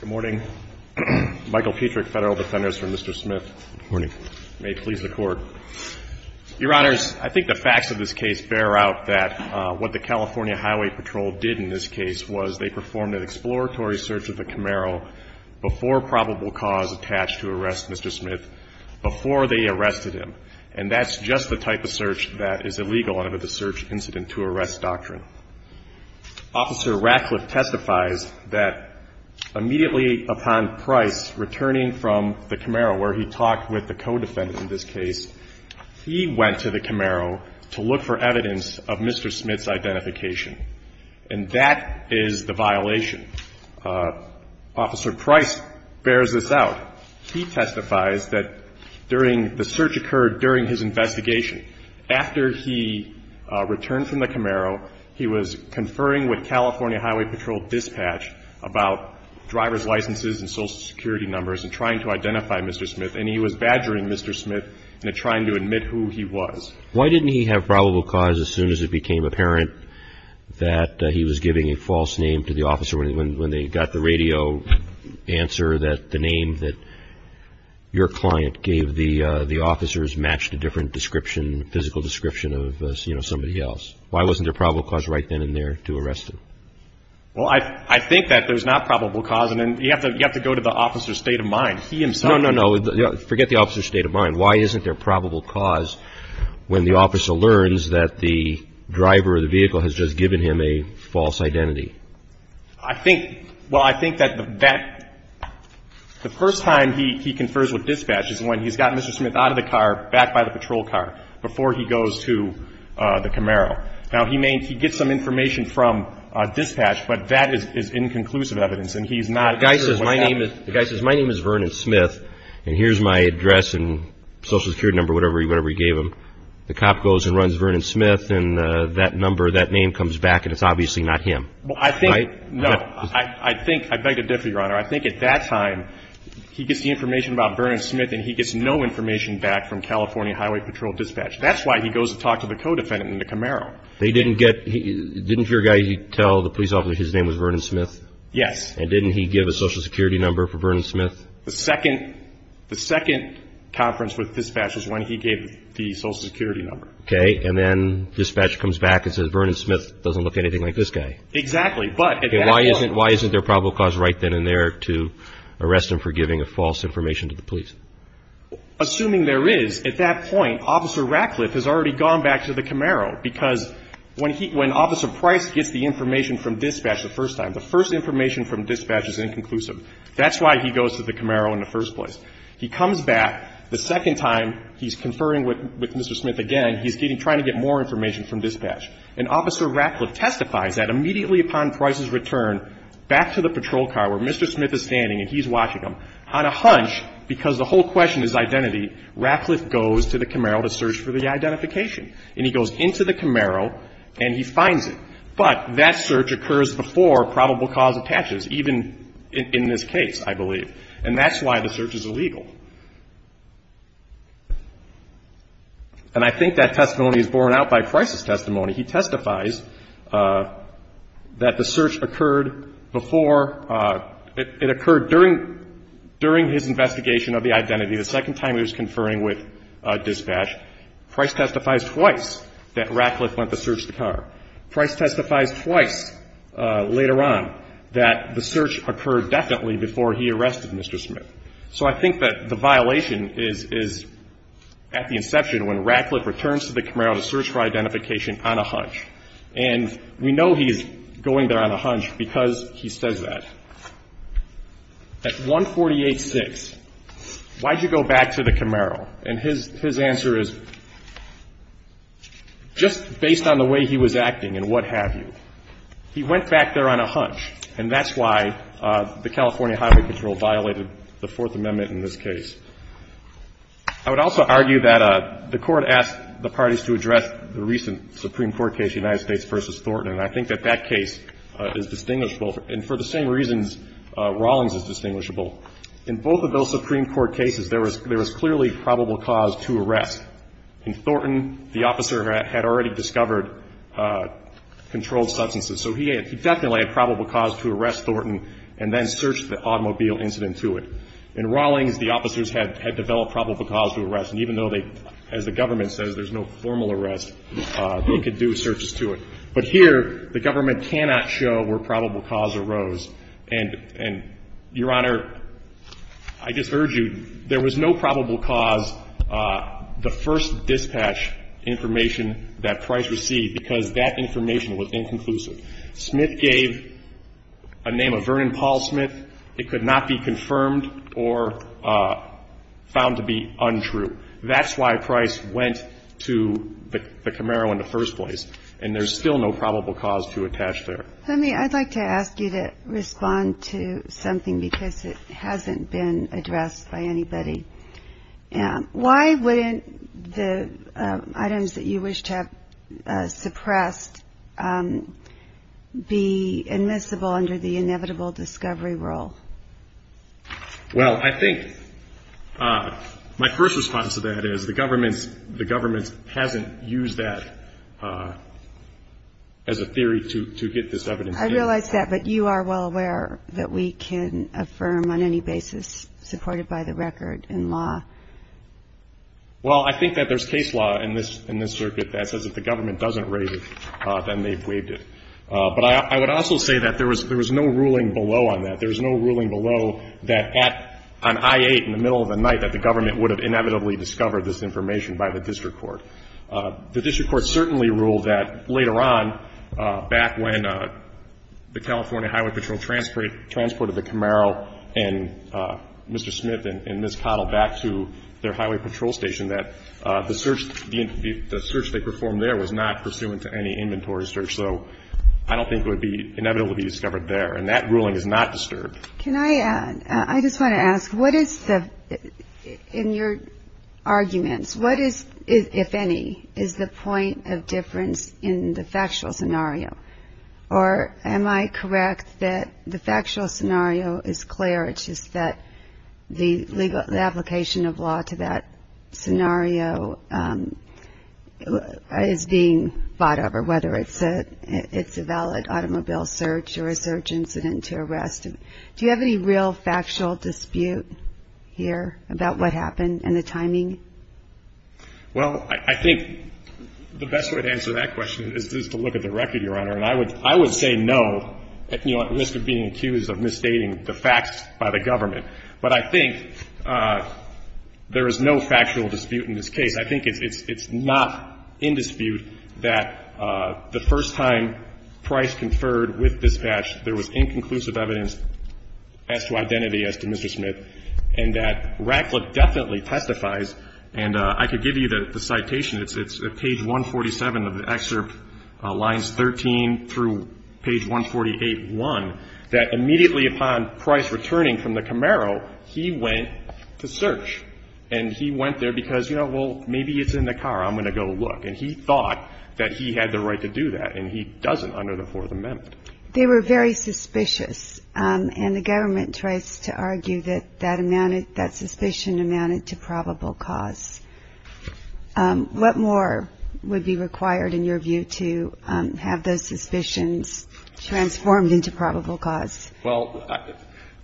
Good morning. Michael Petrick, Federal Defenders for Mr. Smith. Good morning. May it please the Court. Your Honors, I think the facts of this case bear out that what the California Highway Patrol did in this case was they performed an exploratory search of the Camaro before probable cause attached to arrest Mr. Smith, before they arrested him. And that's just the type of search that is illegal under the search incident to arrest doctrine. Officer Ratcliffe testifies that immediately upon Price returning from the Camaro, where he talked with the co-defendant in this case, he went to the Camaro to look for evidence of Mr. Smith's identification. And that is the violation. Officer Price bears this out. He testifies that during the search occurred during his search, he was conferring with California Highway Patrol dispatch about driver's licenses and social security numbers and trying to identify Mr. Smith. And he was badgering Mr. Smith into trying to admit who he was. Why didn't he have probable cause as soon as it became apparent that he was giving a false name to the officer when they got the radio answer that the name that your client gave the officers matched a different description, physical description of, you know, somebody else? Why wasn't there probable cause right then and there to arrest him? Well, I think that there's not probable cause. And then you have to go to the officer's state of mind. He himself... No, no, no. Forget the officer's state of mind. Why isn't there probable cause when the officer learns that the driver of the vehicle has just given him a false identity? I think, well, I think that the first time he confers with dispatch is when he's got the vehicle and he's going to the Camaro. Now, he may get some information from dispatch, but that is inconclusive evidence, and he's not... The guy says my name is Vernon Smith and here's my address and social security number, whatever he gave him. The cop goes and runs Vernon Smith and that number, that name, comes back and it's obviously not him. Well, I think, no. I think, I beg to differ, Your Honor. I think at that time he gets the information about Vernon Smith and he gets no information back from California Highway Patrol dispatch. That's why he goes to talk to the co-defendant in the Camaro. They didn't get, didn't your guy tell the police officer his name was Vernon Smith? Yes. And didn't he give a social security number for Vernon Smith? The second, the second conference with dispatch is when he gave the social security number. Okay, and then dispatch comes back and says Vernon Smith doesn't look anything like this guy. Exactly, but... Okay, why isn't, why isn't there probable cause right then and there to arrest him for giving a false information to the police? Assuming there is, at that point, Officer Ratcliffe has already gone back to the Camaro because when he, when Officer Price gets the information from dispatch the first time, the first information from dispatch is inconclusive. That's why he goes to the Camaro in the first place. He comes back, the second time he's conferring with Mr. Smith again, he's getting, trying to get more information from dispatch. And Officer Ratcliffe testifies that immediately upon Price's return back to the patrol car where Mr. Smith is standing and he's watching him, on a hunch, because the whole question is identity, Ratcliffe goes to the Camaro to search for the identification. And he goes into the Camaro and he finds it. But that search occurs before probable cause attaches, even in this case, I believe. And that's why the search is illegal. And I think that testimony is borne out by Price's testimony. He testifies that the during his investigation of the identity, the second time he was conferring with dispatch, Price testifies twice that Ratcliffe went to search the car. Price testifies twice later on that the search occurred definitely before he arrested Mr. Smith. So I think that the violation is, is at the inception when Ratcliffe returns to the Camaro to search for identification on a hunch. And we know he is going there on a hunch because he says that. At 148-6, why did you go back to the Camaro? And his answer is just based on the way he was acting and what have you. He went back there on a hunch. And that's why the California Highway Patrol violated the Fourth Amendment in this case. I would also argue that the Court asked the parties to address the recent Supreme Court case, United States v. Thornton. And I think that that case is distinguishable. And for the same reasons, Rawlings is distinguishable. In both of those Supreme Court cases, there was clearly probable cause to arrest. In Thornton, the officer had already discovered controlled substances. So he definitely had probable cause to arrest Thornton and then search the automobile incident to it. In Rawlings, the officers had developed probable cause to arrest. And even though they, as the government says, there's no formal arrest, they could do searches to it. But here, the government cannot show where probable cause arose. And, Your Honor, I just urge you, there was no probable cause, the first dispatch information that Price received because that information was inconclusive. Smith gave a name of Vernon Paul Smith. It could not be confirmed or found to be untrue. That's why Price went to the Camaro in the first place. And there's still no probable cause to attach there. Let me, I'd like to ask you to respond to something because it hasn't been addressed by anybody. Why wouldn't the items that you wish to have suppressed be admissible under the inevitable discovery rule? Well, I think my first response to that is the government's, the government hasn't used that as a theory to get this evidence. I realize that, but you are well aware that we can affirm on any basis supported by the record and law. Well, I think that there's case law in this, in this circuit that says if the government doesn't raise it, then they've waived it. But I would also say that there was no ruling below on that. There was no ruling below that on I-8 in the middle of the night that the government would have inevitably discovered this information by the district court. The district court certainly ruled that later on, back when the California Highway Patrol transported the Camaro and Mr. Smith and Ms. Cottle back to their highway patrol station, that the search they performed there was not pursuant to any inventory search. So I don't think it would be inevitable to be discovered there. And that ruling is not disturbed. Can I add, I just want to ask, what is the, in your arguments, what is, if any, is the point of difference in the factual scenario? Or am I correct that the factual scenario is clear, it's just that the legal, the application of law to that scenario is being fought over, whether it's a valid automobile search or a search incident to arrest. Do you have any real factual dispute here about what happened and the timing? Well, I think the best way to answer that question is to look at the record, Your Honor. And I would say no, at risk of being accused of misstating the facts by the government. But I think there is no factual dispute in this case. I think it's not in dispute that the first time Price conferred with dispatch, there was inconclusive evidence as to identity as to Mr. Smith, and that Ratcliffe definitely testifies. And I could give you the citation. It's page 147 of the excerpt, lines 13 through page 148.1, that immediately upon Price returning from the Camaro, he went to search. And he went there because, you know, well, maybe it's in the car, I'm going to go look. And he thought that he had the right to do that, and he doesn't under the Fourth Amendment. They were very suspicious, and the government tries to argue that that amounted that suspicion amounted to probable cause. What more would be required, in your view, to have those suspicions transformed into probable cause? Well,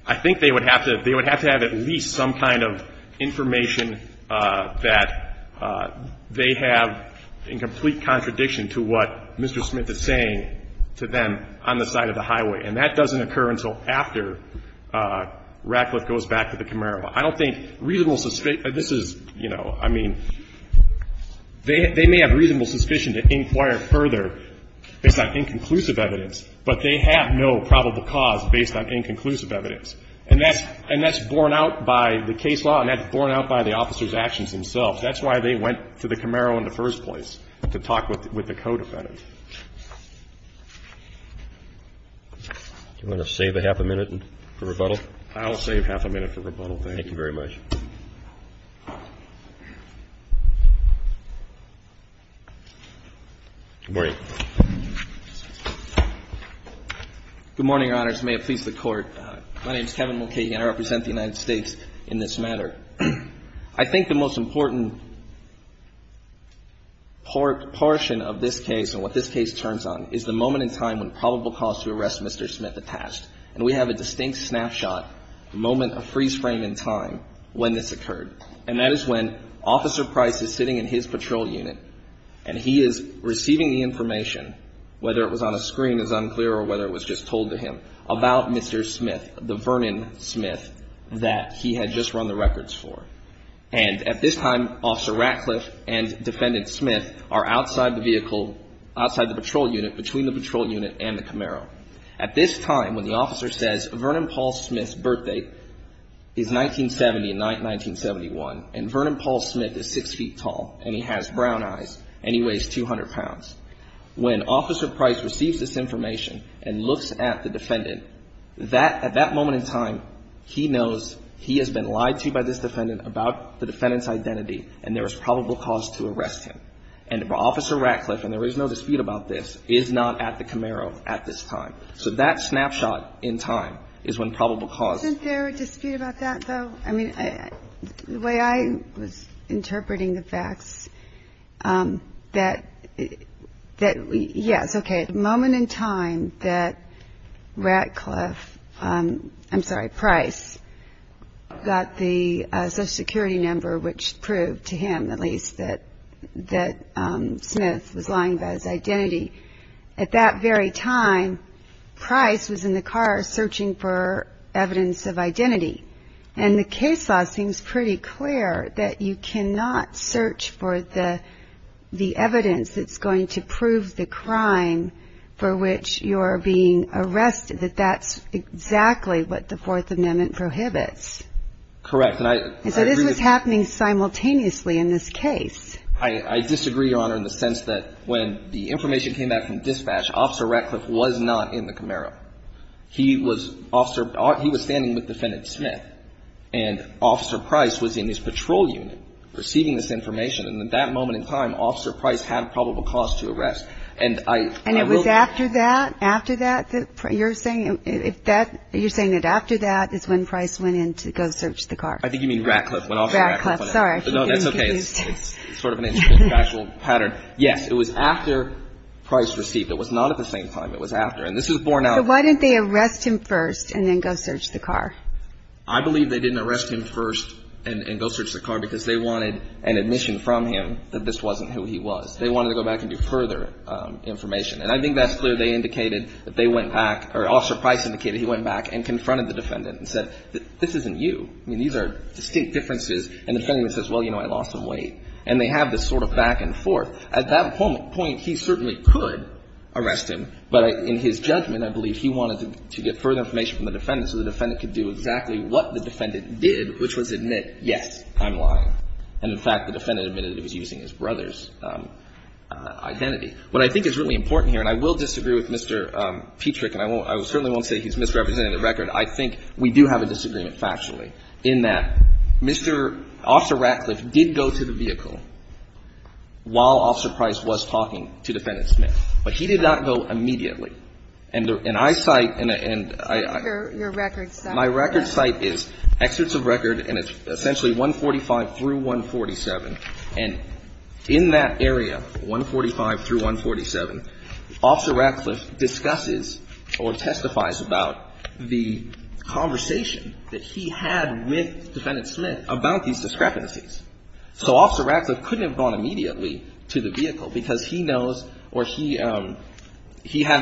I think they would have to have at least some kind of information that they have in complete contradiction to what Mr. Smith is saying to them on the side of the highway. And that doesn't occur until after Ratcliffe goes back to the Camaro. I don't think reasonable suspicion – this is, you know, I mean, they may have reasonable suspicion to inquire further based on inconclusive evidence, but they have no probable cause based on inconclusive evidence. And that's borne out by the case law, and that's borne out by the officer's actions themselves. That's why they went to the Camaro in the first place, to talk with the co-defendant. Do you want to save a half a minute for rebuttal? I'll save half a minute for rebuttal. Thank you very much. Good morning. Good morning, Your Honors. May it please the Court. My name is Kevin Mulcahy, and I represent the United States in this matter. I think the most important portion of this case and what this case turns on is the moment in time when probable cause to arrest Mr. Smith attached. And we have a distinct snapshot, the moment, a freeze frame in time when this occurred. And that is when Officer Price is sitting in his patrol unit, and he is receiving the information, whether it was on a screen is unclear or whether it was just told to him, about Mr. Smith, the Vernon Smith that he had just run the records for. And at this time, Officer Ratcliffe and Defendant Smith are outside the vehicle, outside the patrol unit, between the patrol unit and the Camaro. At this time, when the officer says, Vernon Paul Smith's birthday is 1970 and 1971, and Vernon Paul Smith is six feet tall, and he has brown eyes, and he weighs 200 pounds, when Officer Price receives this information and looks at the defendant, that, at that moment in time, he knows he has been lied to by this defendant about the defendant's identity, and there is probable cause to arrest him. And Officer Ratcliffe, and there is no dispute about this, is not at the Camaro at this time. So that snapshot in time is when probable cause. Isn't there a dispute about that, though? I mean, the way I was interpreting the facts, that, yes, okay, the moment in time that Ratcliffe, I'm sorry, Price, got the Social Security number, which proved to him, at least, that Smith was lying about his identity. At that very time, Price was in the car searching for evidence of identity. And the case law seems pretty clear that you cannot search for the evidence that's going to prove the crime for which you're being arrested, that that's exactly what the Fourth Amendment prohibits. Correct. And so this was happening simultaneously in this case. I disagree, Your Honor, in the sense that when the information came back from dispatch, Officer Ratcliffe was not in the Camaro. He was standing with Defendant Smith. And Officer Price was in his patrol unit receiving this information. And at that moment in time, Officer Price had probable cause to arrest. And it was after that, after that, you're saying that after that is when Price went in to go search the car? I think you mean Ratcliffe. Ratcliffe, sorry. No, that's okay. It's sort of an interesting factual pattern. Yes, it was after Price received. It was not at the same time. It was after. And this is borne out. So why didn't they arrest him first and then go search the car? I believe they didn't arrest him first and go search the car because they wanted an admission from him that this wasn't who he was. They wanted to go back and do further information. And I think that's clear. They indicated that they went back, or Officer Price indicated he went back and confronted the defendant and said, this isn't you. I mean, these are distinct differences. And the defendant says, well, you know, I lost some weight. And they have this sort of back and forth. At that point, he certainly could arrest him, but in his judgment, I believe he wanted to get further information from the defendant so the defendant could do exactly what the defendant did, which was admit, yes, I'm lying. And, in fact, the defendant admitted it was using his brother's identity. What I think is really important here, and I will disagree with Mr. Petrick, and I certainly won't say he's misrepresenting the record. I think we do have a disagreement factually in that Mr. ---- Officer Ratcliffe did go to the vehicle while Officer Price was talking to Defendant Smith. But he did not go immediately. And I cite and I ---- Your record says that. My record cite is Excerpts of Record, and it's essentially 145 through 147. And in that area, 145 through 147, Officer Ratcliffe discusses or testifies about the conversation that he had with Defendant Smith about these discrepancies. So Officer Ratcliffe couldn't have gone immediately to the vehicle because he knows or he had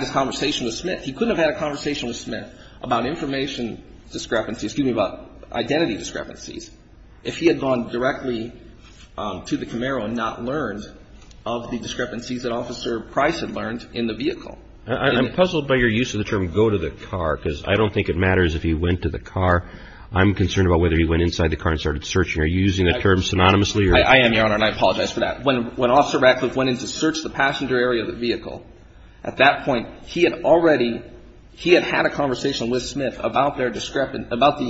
this conversation with Smith. He couldn't have had a conversation with Smith about information discrepancies excuse me, about identity discrepancies if he had gone directly to the Camaro and not learned of the discrepancies that Officer Price had learned in the vehicle. I'm puzzled by your use of the term go to the car because I don't think it matters if he went to the car. I'm concerned about whether he went inside the car and started searching or using the term synonymously. I am, Your Honor, and I apologize for that. When Officer Ratcliffe went in to search the passenger area of the vehicle, at that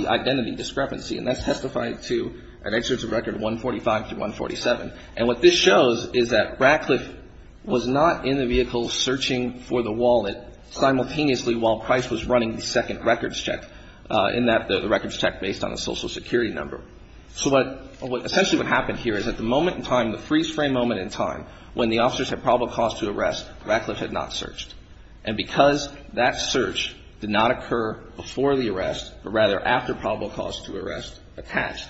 identity discrepancy, and that's testified to an excerpt of record 145 through 147. And what this shows is that Ratcliffe was not in the vehicle searching for the wallet simultaneously while Price was running the second records check in that the records check based on a social security number. So what essentially what happened here is at the moment in time, the freeze frame moment in time, when the officers had probable cause to arrest, Ratcliffe had not searched. And because that search did not occur before the arrest, but rather after probable cause to arrest attached,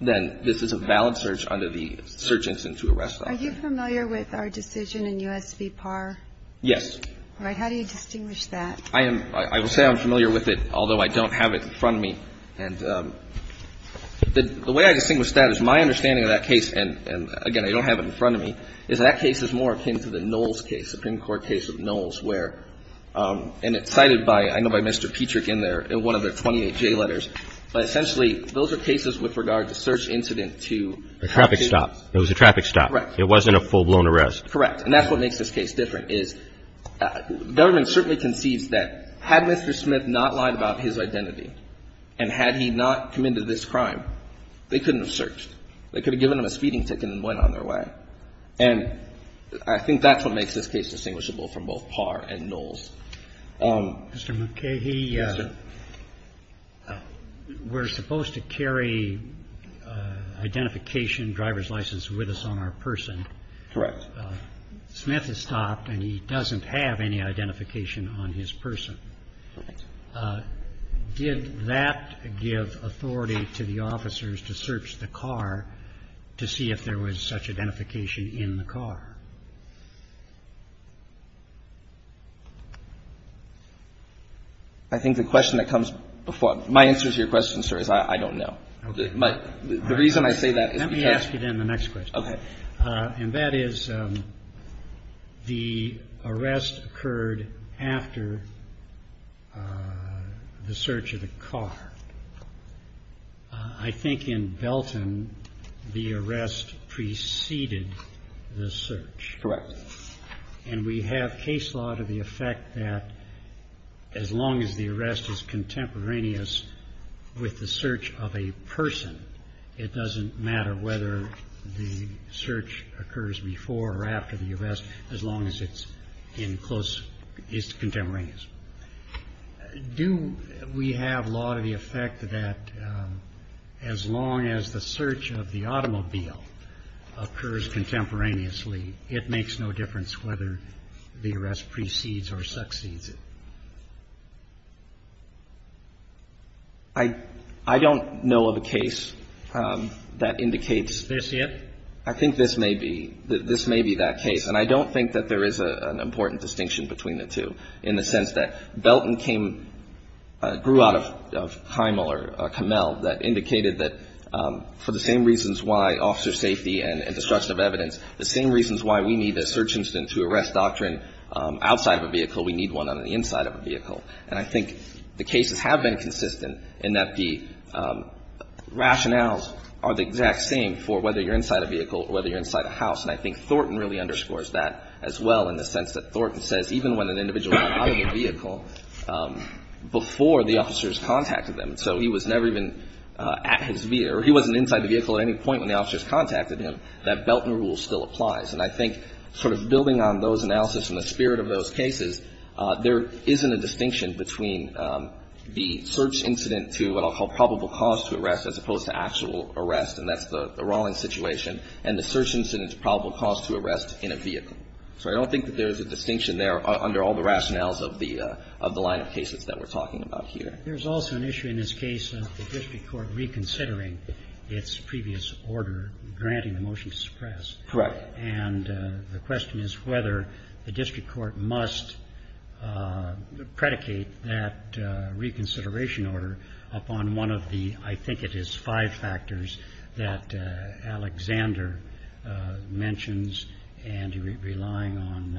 then this is a valid search under the search instance to arrest option. Are you familiar with our decision in U.S. v. Par? Yes. All right. How do you distinguish that? I am. I will say I'm familiar with it, although I don't have it in front of me. And the way I distinguish that is my understanding of that case, and again, I don't have it in front of me, is that case is more akin to the Knowles case, Supreme Court. The Knowles case is more akin to the Knowles where, and it's cited by, I know by Mr. Petrick in there, in one of the 28 J letters, but essentially those are cases with regard to search incident to. A traffic stop. It was a traffic stop. Correct. It wasn't a full-blown arrest. Correct. And that's what makes this case different is government certainly concedes that had Mr. Smith not lied about his identity and had he not committed this crime, they couldn't have searched. They could have given him a speeding ticket and went on their way. And I think that's what makes this case distinguishable from both Parr and Knowles. Mr. McKay. Yes, sir. We're supposed to carry identification, driver's license with us on our person. Correct. Smith has stopped and he doesn't have any identification on his person. Correct. Did that give authority to the officers to search the car to see if there was such identification in the car? I think the question that comes before, my answer to your question, sir, is I don't know. The reason I say that is because. Let me ask you then the next question. Okay. And that is the arrest occurred after the search of the car. I think in Belton the arrest preceded the search. Correct. And we have case law to the effect that as long as the arrest is contemporaneous with the search of a person, it doesn't matter whether the search occurs before or after the arrest as long as it's in close, it's contemporaneous. Do we have law to the effect that as long as the search of the automobile occurs contemporaneously, it makes no difference whether the arrest precedes or succeeds it? I don't know of a case that indicates. Is this it? I think this may be. This may be that case. And I don't think that there is an important distinction between the two in the sense that Belton came, grew out of Heimel or Camel that indicated that for the same reasons why officer safety and destruction of evidence, the same reasons why we need a search incident to arrest doctrine outside of a vehicle, we need one on the inside of a vehicle. And I think the cases have been consistent in that the rationales are the exact same for whether you're inside a vehicle or whether you're inside a house. And I think Thornton really underscores that as well in the sense that Thornton says even when an individual got out of the vehicle before the officers contacted them, so he was never even at his vehicle or he wasn't inside the vehicle at any point when the officers contacted him, that Belton rule still applies. And I think sort of building on those analysis and the spirit of those cases, there isn't a distinction between the search incident to what I'll call probable cause to arrest as opposed to actual arrest, and that's the Rawlings situation, and the search incident to probable cause to arrest in a vehicle. So I don't think that there is a distinction there under all the rationales of the line of cases that we're talking about here. Roberts. There's also an issue in this case of the district court reconsidering its previous order granting the motion to suppress. Right. And the question is whether the district court must predicate that reconsideration order upon one of the, I think it is, five factors that Alexander mentions and relying on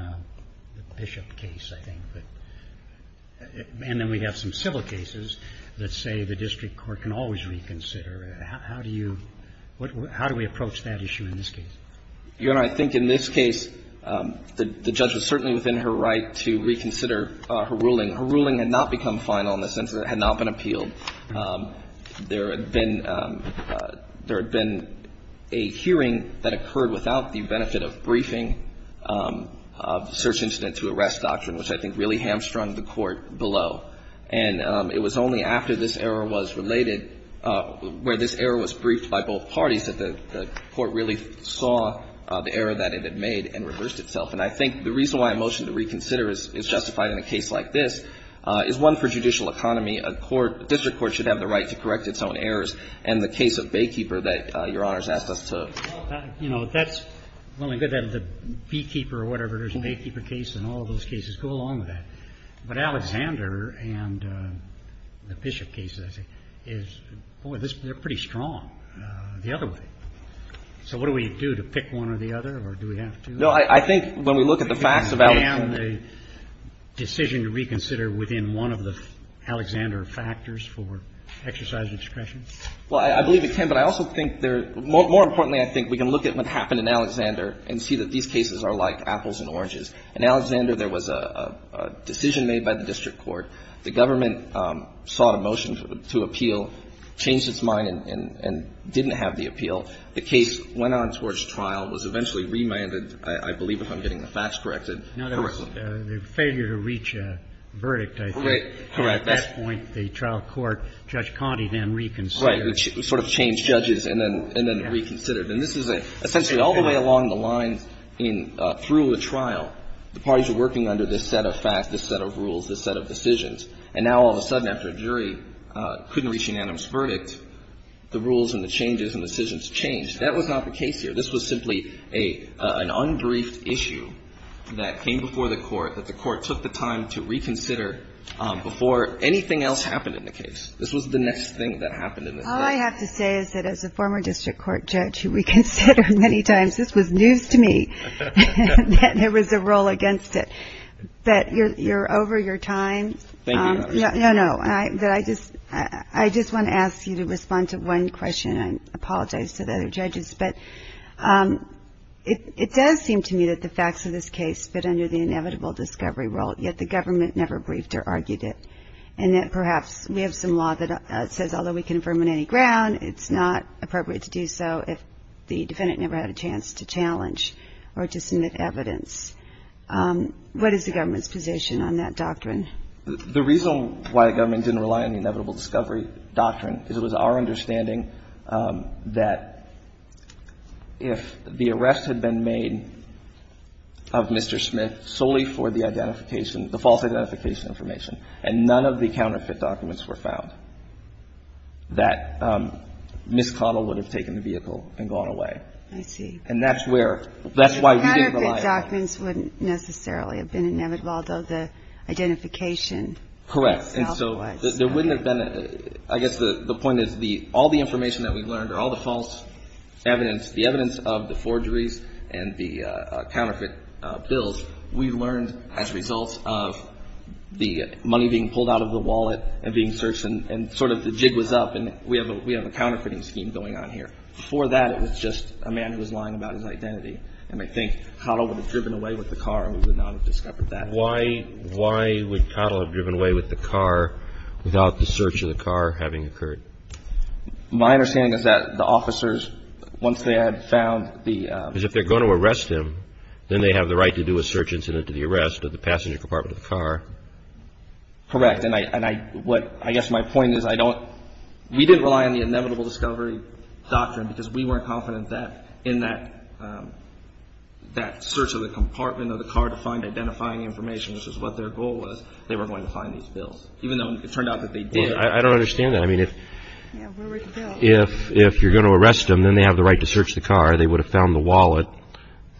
the Bishop case, I think. And then we have some civil cases that say the district court can always reconsider. How do you – how do we approach that issue in this case? Your Honor, I think in this case the judge was certainly within her right to reconsider her ruling. Her ruling had not become final in the sense that it had not been appealed. There had been – there had been a hearing that occurred without the benefit of briefing search incident to arrest doctrine, which I think really hamstrung the court below. And it was only after this error was related, where this error was briefed by both parties, that the court really saw the error that it had made and reversed itself. And I think the reason why a motion to reconsider is justified in a case like this is one for judicial economy. A court – a district court should have the right to correct its own errors. And the case of Baykeeper that Your Honor has asked us to – You know, that's – well, we could have the Beekeeper or whatever. There's a Baykeeper case and all those cases. Go along with that. But Alexander and the Bishop case, I think, is – boy, they're pretty strong the other way. So what do we do? Do we pick one or the other? Or do we have to? No, I think when we look at the facts of Alexander – Do we have to ban the decision to reconsider within one of the Alexander factors for exercise of discretion? Well, I believe we can. But I also think there – more importantly, I think we can look at what happened in Alexander and see that these cases are like apples and oranges. In Alexander, there was a decision made by the district court. The government sought a motion to appeal, changed its mind and didn't have the appeal. The case went on towards trial, was eventually remanded, I believe, if I'm getting the facts corrected. Now, there was a failure to reach a verdict, I think. Correct. At that point, the trial court, Judge Conte then reconsidered. Right. Sort of changed judges and then reconsidered. And this is a – essentially all the way along the lines in – through the trial, the parties are working under this set of facts, this set of rules, this set of decisions. And now all of a sudden after a jury couldn't reach unanimous verdict, the rules and the changes and decisions changed. That was not the case here. This was simply an unbriefed issue that came before the court that the court took the time to reconsider before anything else happened in the case. This was the next thing that happened in this case. All I have to say is that as a former district court judge who reconsidered many times, this was news to me that there was a role against it. But you're over your time. Thank you, Your Honor. No, no. I just want to ask you to respond to one question. I apologize to the other judges. But it does seem to me that the facts of this case fit under the inevitable discovery role, yet the government never briefed or argued it. And that perhaps we have some law that says although we can affirm on any ground, it's not appropriate to do so if the defendant never had a chance to challenge or to submit evidence. What is the government's position on that doctrine? The reason why the government didn't rely on the inevitable discovery doctrine is it was our understanding that if the arrest had been made of Mr. Smith solely for the false identification information and none of the counterfeit documents were found, that Ms. Connell would have taken the vehicle and gone away. I see. And that's where we didn't rely on it. The documents wouldn't necessarily have been inevitable, although the identification itself was. Correct. And so there wouldn't have been a – I guess the point is all the information that we learned or all the false evidence, the evidence of the forgeries and the counterfeit bills, we learned as a result of the money being pulled out of the wallet and being searched, and sort of the jig was up, and we have a counterfeiting scheme going on here. Before that, it was just a man who was lying about his identity and I think Connell would have driven away with the car and we would not have discovered that. Why would Connell have driven away with the car without the search of the car having occurred? My understanding is that the officers, once they had found the – Because if they're going to arrest him, then they have the right to do a search incident to the arrest of the passenger compartment of the car. Correct. And I guess my point is I don't – we didn't rely on the inevitable discovery doctrine because we weren't confident that in that search of the compartment of the car to find identifying information, which is what their goal was, they were going to find these bills, even though it turned out that they did. I don't understand that. I mean, if you're going to arrest them, then they have the right to search the car. They would have found the wallet.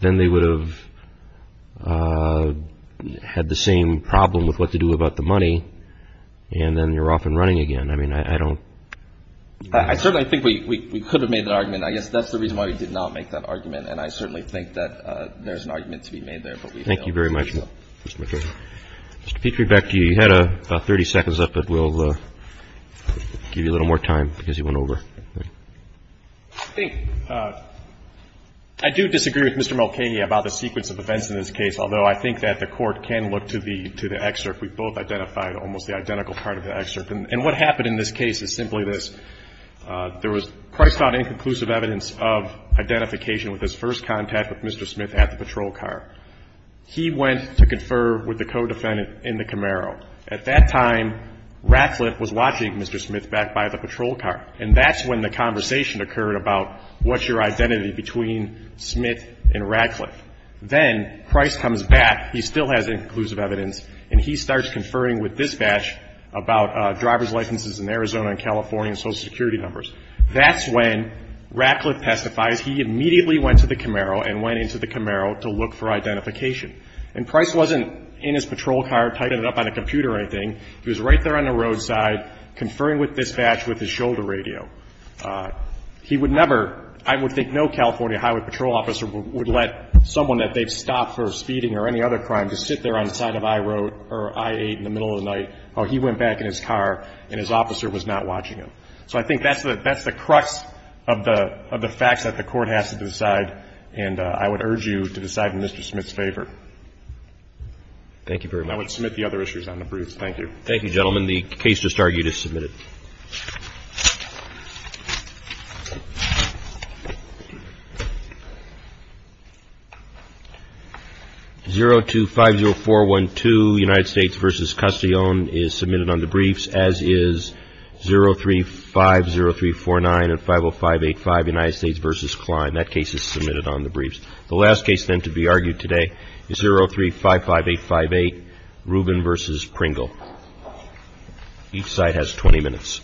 Then they would have had the same problem with what to do about the money, and then you're off and running again. I mean, I don't – I certainly think we could have made that argument. I guess that's the reason why we did not make that argument, and I certainly think that there's an argument to be made there. Thank you very much, Mr. Mulcahy. Mr. Pietrebek, you had about 30 seconds left, but we'll give you a little more time because you went over. I think – I do disagree with Mr. Mulcahy about the sequence of events in this case, although I think that the Court can look to the excerpt. We both identified almost the identical part of the excerpt. And what happened in this case is simply this. There was – Christ found inconclusive evidence of identification with his first contact with Mr. Smith at the patrol car. He went to confer with the co-defendant in the Camaro. At that time, Radcliffe was watching Mr. Smith back by the patrol car, and that's when the conversation occurred about what's your identity between Smith and Radcliffe. Then Christ comes back. He still has inconclusive evidence. And he starts conferring with dispatch about driver's licenses in Arizona and California and Social Security numbers. That's when Radcliffe testifies. He immediately went to the Camaro and went into the Camaro to look for identification. And Christ wasn't in his patrol car typing it up on a computer or anything. He was right there on the roadside conferring with dispatch with his shoulder radio. He would never – I would think no California highway patrol officer would let someone that they've stopped for speeding or any other crime just sit there on the side of I-8 in the middle of the night while he went back in his car and his officer was not watching him. So I think that's the crux of the facts that the court has to decide, and I would urge you to decide in Mr. Smith's favor. Thank you very much. I would submit the other issues on the briefs. Thank you. Thank you, gentlemen. The case just argued is submitted. 0250412, United States v. Castillon, is submitted on the briefs, as is 0350349 and 50585, United States v. Klein. That case is submitted on the briefs. The last case, then, to be argued today is 0355858, Rubin v. Pringle. Each side has 20 minutes.